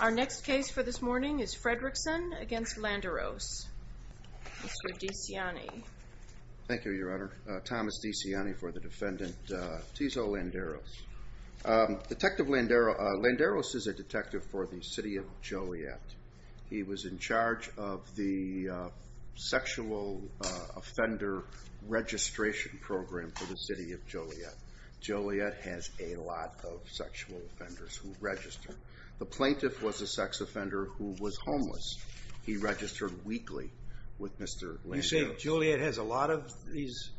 Our next case for this morning is Fredrickson v. Landeros. Mr. DeCiani. Thank you, Your Honor. Thomas DeCiani for the defendant, Tizoc Landeros. Detective Landeros is a detective for the city of Joliet. He was in charge of the sexual offender registration program for the city of Joliet. Joliet has a lot of sexual offenders who register. The plaintiff was a sex offender who was homeless. He registered weekly with Mr. Landeros. You say Joliet has a lot of these?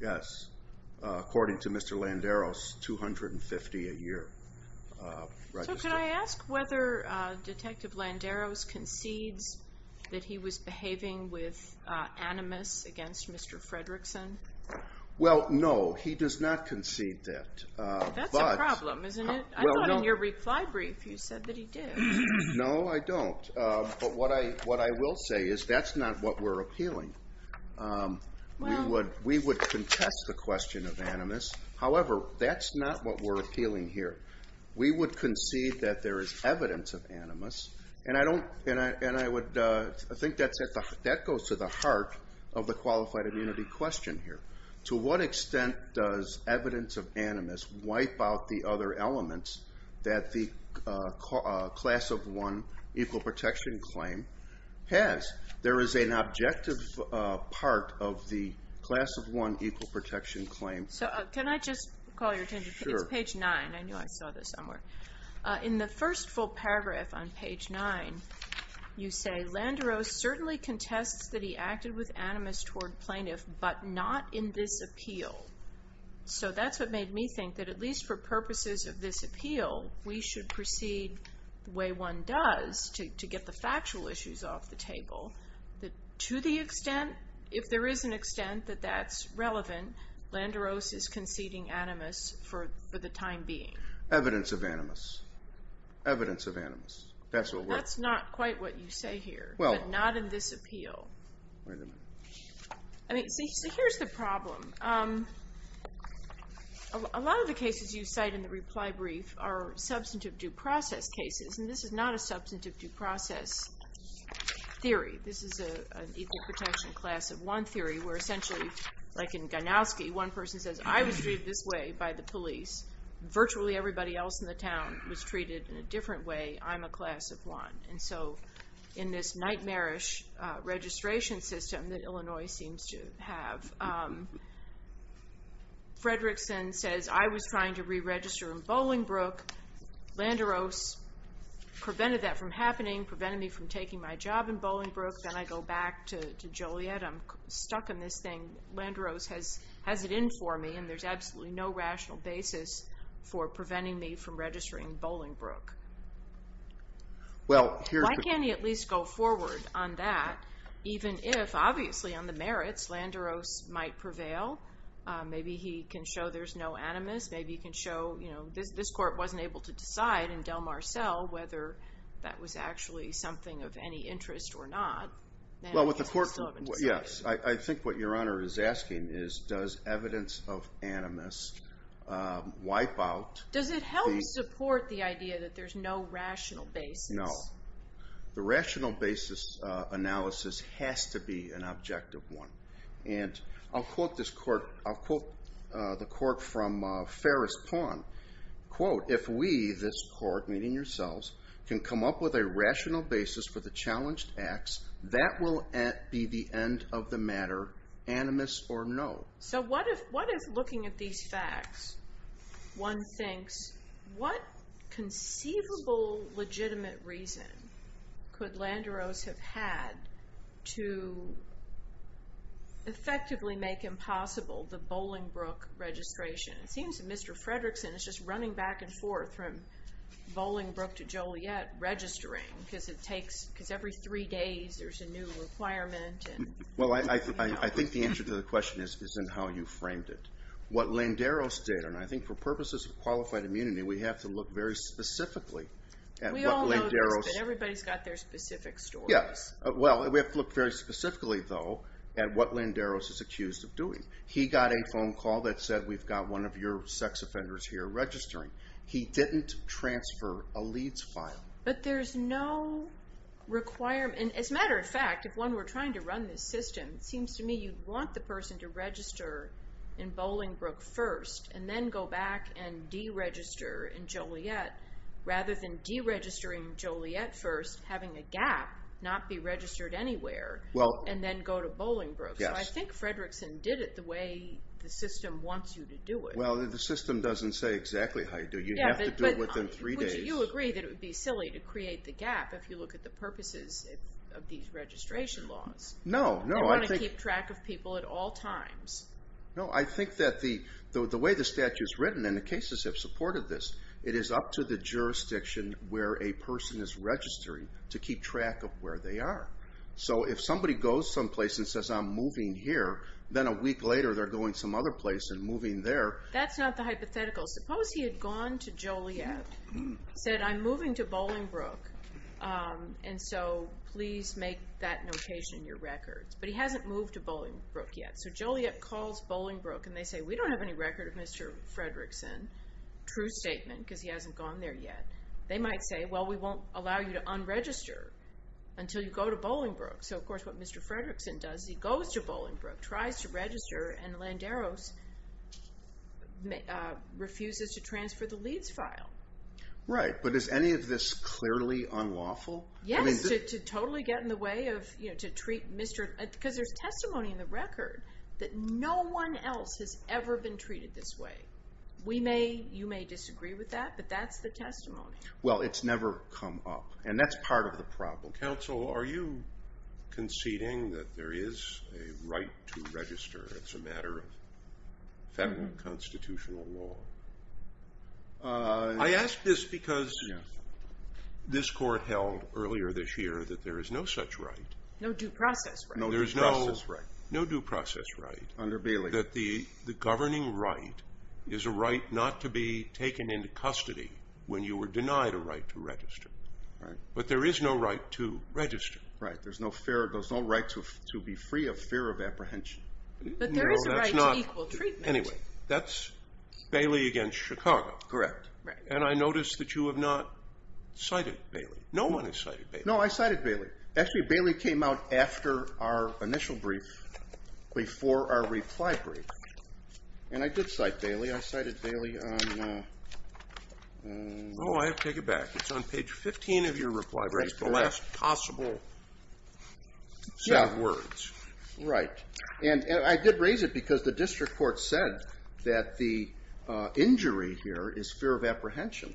Yes, according to Mr. Landeros, 250 a year. So can I ask whether Detective Landeros concedes that he was behaving with animus against Mr. Fredrickson? Well, no, he does not concede that. That's a problem, isn't it? I thought in your reply brief you said that he did. No, I don't. But what I will say is that's not what we're appealing. We would contest the question of animus. However, that's not what we're appealing here. We would concede that there is evidence of animus. And I think that goes to the heart of the qualified immunity question here. To what extent does evidence of animus wipe out the other elements that the Class of 1 Equal Protection Claim has? There is an objective part of the Class of 1 Equal Protection Claim. Can I just call your attention? It's page 9. I knew I saw this somewhere. In the first full paragraph on page 9, you say, Landeros certainly contests that he acted with animus toward plaintiff, but not in this appeal. So that's what made me think that at least for purposes of this appeal, we should proceed the way one does to get the factual issues off the table. To the extent, if there is an extent that that's relevant, Landeros is conceding animus for the time being. Evidence of animus. Evidence of animus. That's not quite what you say here, but not in this appeal. So here's the problem. A lot of the cases you cite in the reply brief are substantive due process cases, and this is not a substantive due process theory. This is an Equal Protection Class of 1 theory, where essentially, like in Ganowski, one person says, I was treated this way by the police. Virtually everybody else in the town was treated in a different way. I'm a class of 1. In this nightmarish registration system that Illinois seems to have, Fredrickson says, I was trying to re-register in Bolingbrook. Landeros prevented that from happening, prevented me from taking my job in Bolingbrook. Then I go back to Joliet. I'm stuck in this thing. Landeros has it in for me, and there's absolutely no rational basis for preventing me from registering in Bolingbrook. Why can't he at least go forward on that, even if, obviously, on the merits, Landeros might prevail? Maybe he can show there's no animus. Maybe he can show this court wasn't able to decide in Del Mar Cell whether that was actually something of any interest or not. I think what Your Honor is asking is, does evidence of animus wipe out... Does it help support the idea that there's no rational basis? No. The rational basis analysis has to be an objective one. I'll quote the court from Ferris Pawn. If we, this court, meaning yourselves, can come up with a rational basis for the challenged acts, that will be the end of the matter, animus or no. So what if, looking at these facts, one thinks, what conceivable legitimate reason could Landeros have had to effectively make impossible the Bolingbrook registration? It seems that Mr. Fredrickson is just running back and forth from Bolingbrook to Joliet registering, because every three days there's a new requirement. I think the answer to the question is in how you framed it. What Landeros did, and I think for purposes of qualified immunity, we have to look very specifically at what Landeros... We all know this, but everybody's got their specific stories. We have to look very specifically, though, at what Landeros is accused of doing. He got a phone call that said, we've got one of your sex offenders here registering. He didn't transfer a leads file. But there's no requirement, and as a matter of fact, if one were trying to run this system, it seems to me you'd want the person to register in Bolingbrook first, and then go back and deregister in Joliet, rather than deregistering Joliet first, having a gap, not be registered anywhere, and then go to Bolingbrook. So I think Fredrickson did it the way the system wants you to do it. Well, the system doesn't say exactly how you do it. You have to do it within three days. Would you agree that it would be silly to create the gap if you look at the purposes of these registration laws? They want to keep track of people at all times. No, I think that the way the statute is written, and the cases have supported this, it is up to the jurisdiction where a person is registering to keep track of where they are. So if somebody goes someplace and says, I'm moving here, then a week later they're going some other place and moving there. That's not the hypothetical. Suppose he had gone to Joliet, said, I'm moving to Bolingbrook, and so please make that notation in your records. But he hasn't moved to Bolingbrook yet. So Joliet calls Bolingbrook, and they say, we don't have any record of Mr. Fredrickson. True statement, because he hasn't gone there yet. They might say, well, we won't allow you to unregister until you go to Bolingbrook. So, of course, what Mr. Fredrickson does is he goes to Bolingbrook, tries to register, and Landeros refuses to transfer the Leeds file. Right, but is any of this clearly unlawful? Yes, to totally get in the way of to treat Mr.... because there's testimony in the record that no one else has ever been treated this way. We may, you may disagree with that, but that's the testimony. Well, it's never come up. And that's part of the problem. Counsel, are you conceding that there is a right to register? It's a matter of federal constitutional law. I ask this because this court held earlier this year that there is no such right. No due process right. No due process right. Under Bailey. That the governing right is a right not to be taken into custody when you were denied a right to register. But there is no right to register. Right, there's no right to be free of fear of apprehension. But there is a right to equal treatment. Anyway, that's Bailey against Chicago. Correct. And I notice that you have not cited Bailey. No one has cited Bailey. No, I cited Bailey. Actually, Bailey came out after our initial brief, before our reply brief. And I did cite Bailey. I cited Bailey on Oh, I have to take it back. It's on page 15 of your reply brief. The last possible set of words. Right. And I did raise it because the district court said that the injury here is fear of apprehension.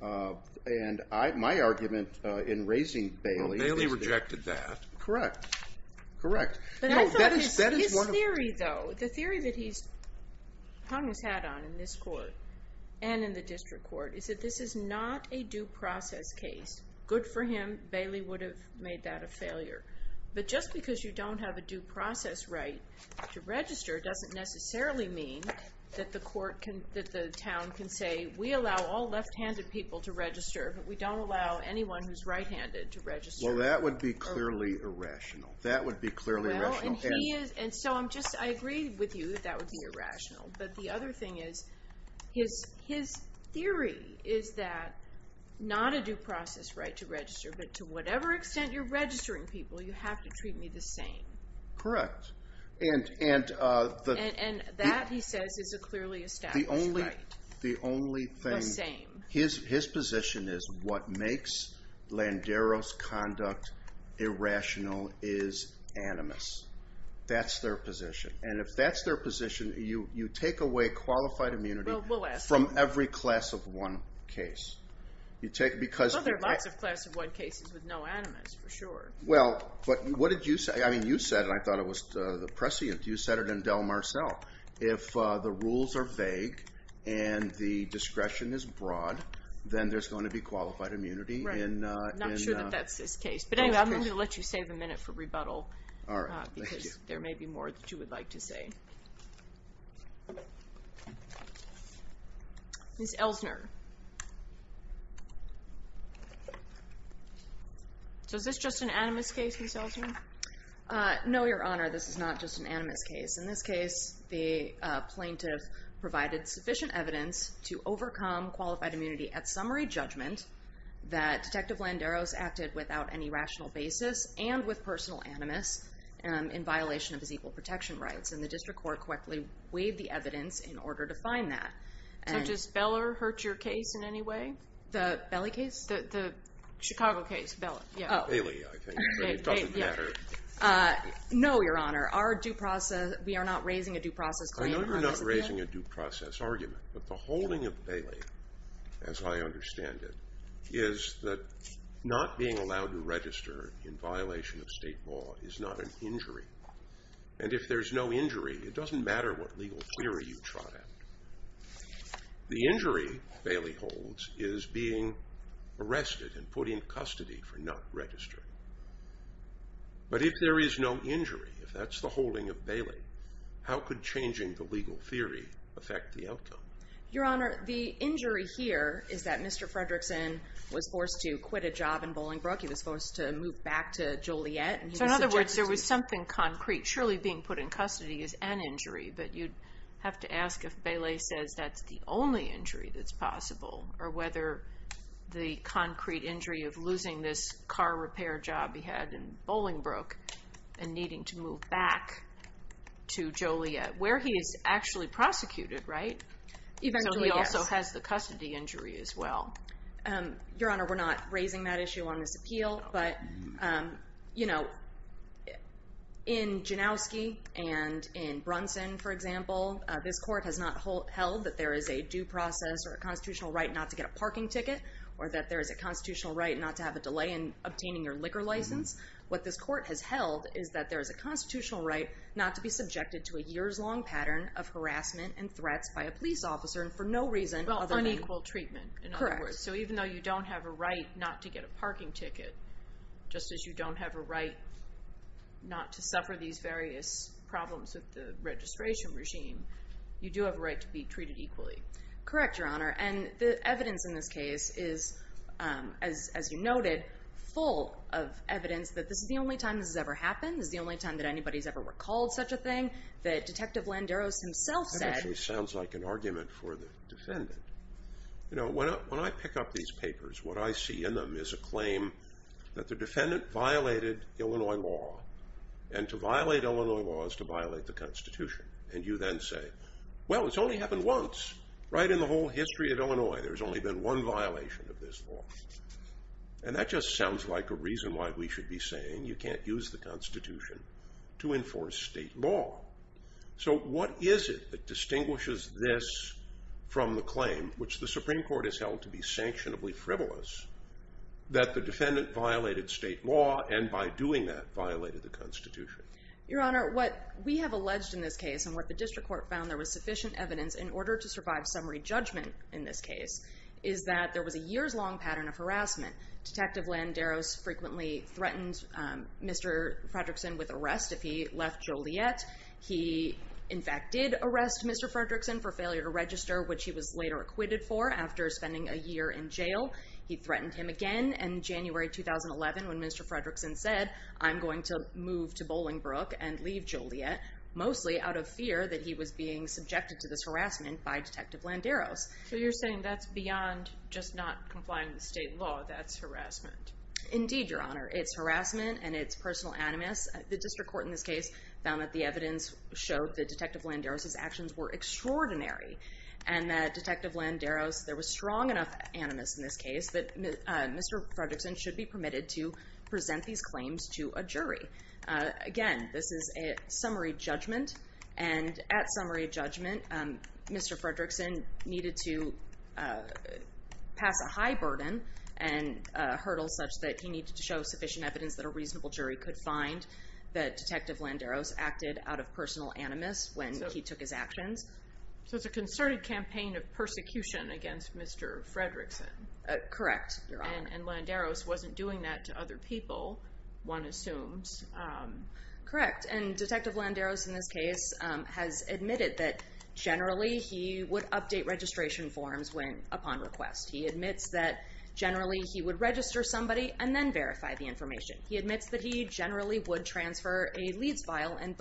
And my argument in raising Bailey Well, Bailey rejected that. Correct. Correct. His theory though, the theory that he's hung his hat on in this court and in the district court is that this is not a due process case. Good for him. Bailey would have made that a failure. But just because you don't have a due process right to register doesn't necessarily mean that the court can that the town can say, we allow all left handed people to register but we don't allow anyone who's right handed to register. Well, that would be clearly irrational. That would be clearly irrational. Well, and he is, and so I'm just, I agree with you that that would be irrational. But the other thing is his theory is that not a due process right to register, but to whatever extent you're registering people, you have to treat me the same. Correct. And that, he says, is a clearly established right. The only thing The same. His position is what makes Landeros conduct irrational is animus. That's their position. And if that's their position, you take away qualified immunity from every class of one case. Well, there are lots of class of one cases with no animus, for sure. Well, but what did you say? I mean, you said it, I thought it was the prescient you said it in Del Marceau. If the rules are vague Right. I'm not sure that that's his case. But anyway, I'm going to let you save a minute for rebuttal because there may be more that you would like to say. Ms. Elsner. So is this just an animus case, Ms. Elsner? No, Your Honor, this is not just an animus case. In this case, the plaintiff provided sufficient evidence to overcome qualified immunity at summary judgment that Detective Landeros acted without any rational basis and with personal animus in violation of his equal protection rights. And the district court quickly waived the evidence in order to find that. So does Beller hurt your case in any way? The Belly case? The Chicago case. Beller. No, Your Honor. Our due process We are not raising a due process claim. We are not raising a due process argument. But the holding of Bailey, as I understand it, is that not being allowed to register in violation of state law is not an injury. And if there's no injury, it doesn't matter what legal query you trot out. The injury Bailey holds is being arrested and put in custody for not registering. But if there is no injury, if that's the holding of Bailey, how could changing the Your Honor, the injury here is that Mr. Fredrickson was forced to quit a job in Bolingbrook. He was forced to move back to Joliet. So in other words, there was something concrete. Surely being put in custody is an injury. But you'd have to ask if Bailey says that's the only injury that's possible. Or whether the concrete injury of losing this car repair job he had in Bolingbrook and needing to move back to Joliet, where he is actually prosecuted, right? So he also has the custody injury as well. Your Honor, we're not raising that issue on this appeal. But, you know, in Janowski and in Brunson, for example, this court has not held that there is a due process or a constitutional right not to get a parking ticket or that there is a constitutional right not to have a delay in obtaining your liquor license. What this court has held is that there is a constitutional right not to be a victim of harassment and threats by a police officer and for no reason other than... Well, unequal treatment, in other words. So even though you don't have a right not to get a parking ticket just as you don't have a right not to suffer these various problems with the registration regime, you do have a right to be treated equally. Correct, Your Honor. And the evidence in this case is, as you noted, full of evidence that this is the only time this has ever happened. This is the only time that anybody's ever recalled such a thing. That actually sounds like an argument for the defendant. You know, when I pick up these papers, what I see in them is a claim that the defendant violated Illinois law and to violate Illinois law is to violate the Constitution. And you then say, well, it's only happened once. Right in the whole history of Illinois, there's only been one violation of this law. And that just sounds like a reason why we should be saying you can't use the Constitution to enforce state law. So what is it that distinguishes this from the claim, which the Supreme Court has held to be sanctionably frivolous, that the defendant violated state law and by doing that violated the Constitution? Your Honor, what we have alleged in this case and what the District Court found there was sufficient evidence in order to survive summary judgment in this case is that there was a years-long pattern of harassment. Detective Landeros frequently threatened Mr. Fredrickson with Joliet. He, in fact, did arrest Mr. Fredrickson for failure to register, which he was later acquitted for after spending a year in jail. He threatened him again in January 2011 when Mr. Fredrickson said, I'm going to move to Bolingbrook and leave Joliet, mostly out of fear that he was being subjected to this harassment by Detective Landeros. So you're saying that's beyond just not complying with state law. That's harassment. Indeed, Your Honor. It's harassment and it's personal animus. The District Court in this case found that the evidence showed that Detective Landeros' actions were extraordinary and that Detective Landeros, there was strong enough animus in this case that Mr. Fredrickson should be permitted to present these claims to a jury. Again, this is a summary judgment and at summary judgment Mr. Fredrickson needed to pass a high burden and hurdles such that he needed to show sufficient evidence that a reasonable jury could find that Detective Landeros acted out of personal animus when he took his actions. So it's a concerted campaign of persecution against Mr. Fredrickson. Correct, Your Honor. And Landeros wasn't doing that to other people, one assumes. Correct. And Detective Landeros in this case has admitted that generally he would update registration forms upon request. He admits that generally he would transfer a leads file and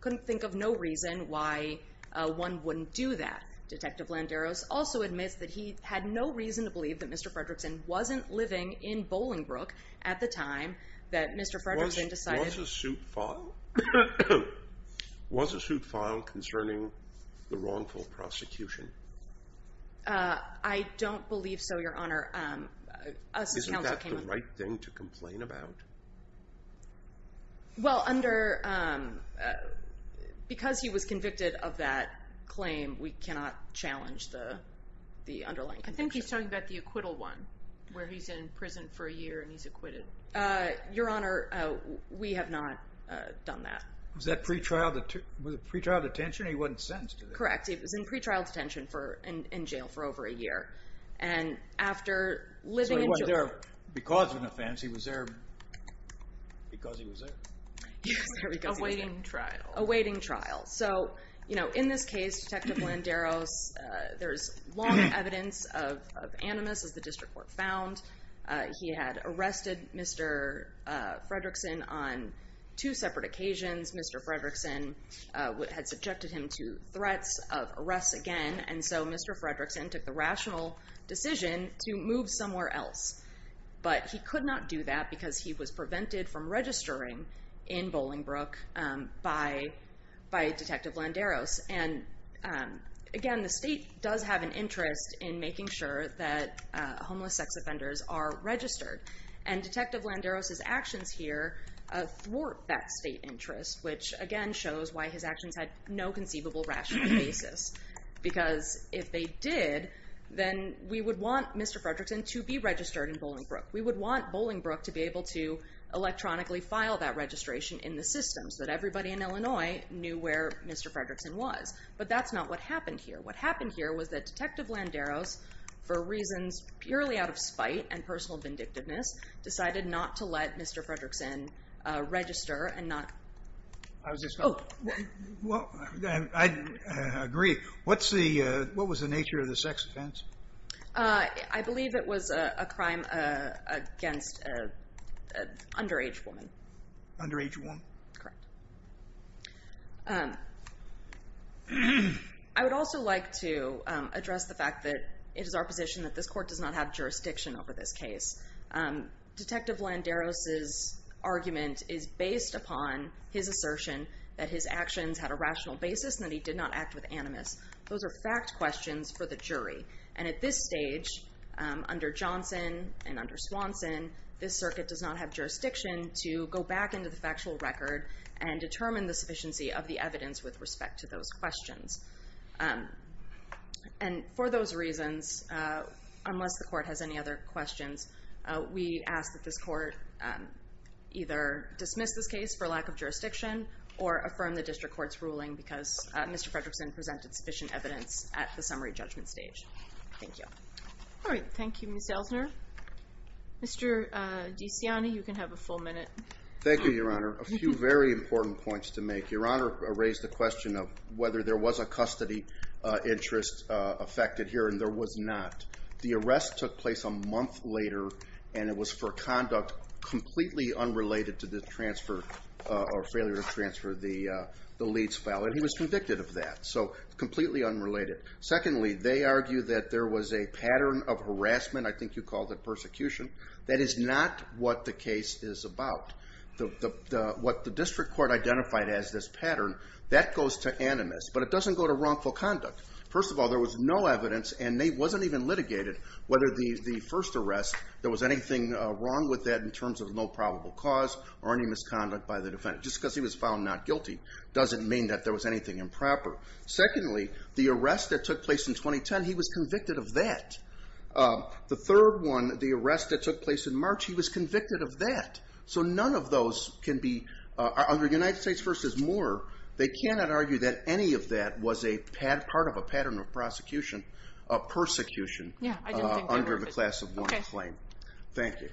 couldn't think of no reason why one wouldn't do that. Detective Landeros also admits that he had no reason to believe that Mr. Fredrickson wasn't living in Bolingbrook at the time that Mr. Fredrickson decided... Was a suit filed concerning the wrongful prosecution? I don't believe so, Your Honor. Isn't that the right thing to complain about? Well, under... Because he was convicted of that claim, we cannot challenge the underlying conviction. I think he's talking about the acquittal one, where he's in prison for a year and he's acquitted. Your Honor, we have not done that. Was that pre-trial detention and he wasn't sentenced? Correct. He was in pre-trial detention in jail for over a year, living in jail. Because of an offense, he was there because he was there. Awaiting trial. Awaiting trial. So, you know, in this case, Detective Landeros, there's long evidence of animus, as the district court found. He had arrested Mr. Fredrickson on two separate occasions. Mr. Fredrickson had subjected him to threats of arrests again, and so Mr. Fredrickson took the move somewhere else. But he could not do that because he was prevented from registering in Bolingbrook by Detective Landeros. And again, the state does have an interest in making sure that homeless sex offenders are registered. And Detective Landeros' actions here thwart that state interest, which again shows why his actions had no conceivable rational basis. Because if they did, then we would want Mr. Fredrickson to be registered in Bolingbrook. We would want Bolingbrook to be able to electronically file that registration in the system, so that everybody in Illinois knew where Mr. Fredrickson was. But that's not what happened here. What happened here was that Detective Landeros, for reasons purely out of spite and personal vindictiveness, decided not to let Mr. Fredrickson register and not Oh, well, I agree. What was the nature of the sex offense? I believe it was a crime against an underage woman. I would also like to address the fact that it is our position that this court does not have jurisdiction over this case. Detective Landeros' argument is based upon his assertion that his actions had a rational basis and that he did not act with animus. Those are fact questions for the jury. And at this stage, under Johnson and under Swanson, this circuit does not have jurisdiction to go back into the factual record and determine the sufficiency of the evidence with respect to those questions. And for those reasons, unless the court has any other questions, we ask that this court either dismiss this case for lack of jurisdiction or affirm the district court's ruling because Mr. Fredrickson presented sufficient evidence at the summary judgment stage. Thank you. Thank you, Ms. Delsner. Mr. DeCiani, you can have a full minute. Thank you, Your Honor. A few very important points to make. Your Honor raised the question of whether there was a custody interest affected here, and there was not. The arrest took place a month later, and it was for conduct completely unrelated to the failure to transfer the leads file. And he was convicted of that, so completely unrelated. Secondly, they argue that there was a pattern of harassment. I think you called it persecution. That is not what the case is about. What the district court identified as this pattern, that goes to animus. But it doesn't go to wrongful conduct. First of all, there was no evidence, and it wasn't even litigated, whether the first arrest, there was anything wrong with that in terms of no probable cause or any misconduct by the defendant. Just because he was found not guilty doesn't mean that there was anything improper. Secondly, the arrest that took place in 2010, he was convicted of that. The third one, the arrest that took place in March, he was convicted of that. So none of those can be, under United States v. Moore, they cannot argue that any of that was part of a pattern of prosecution of persecution under the class of one claim. Thank you.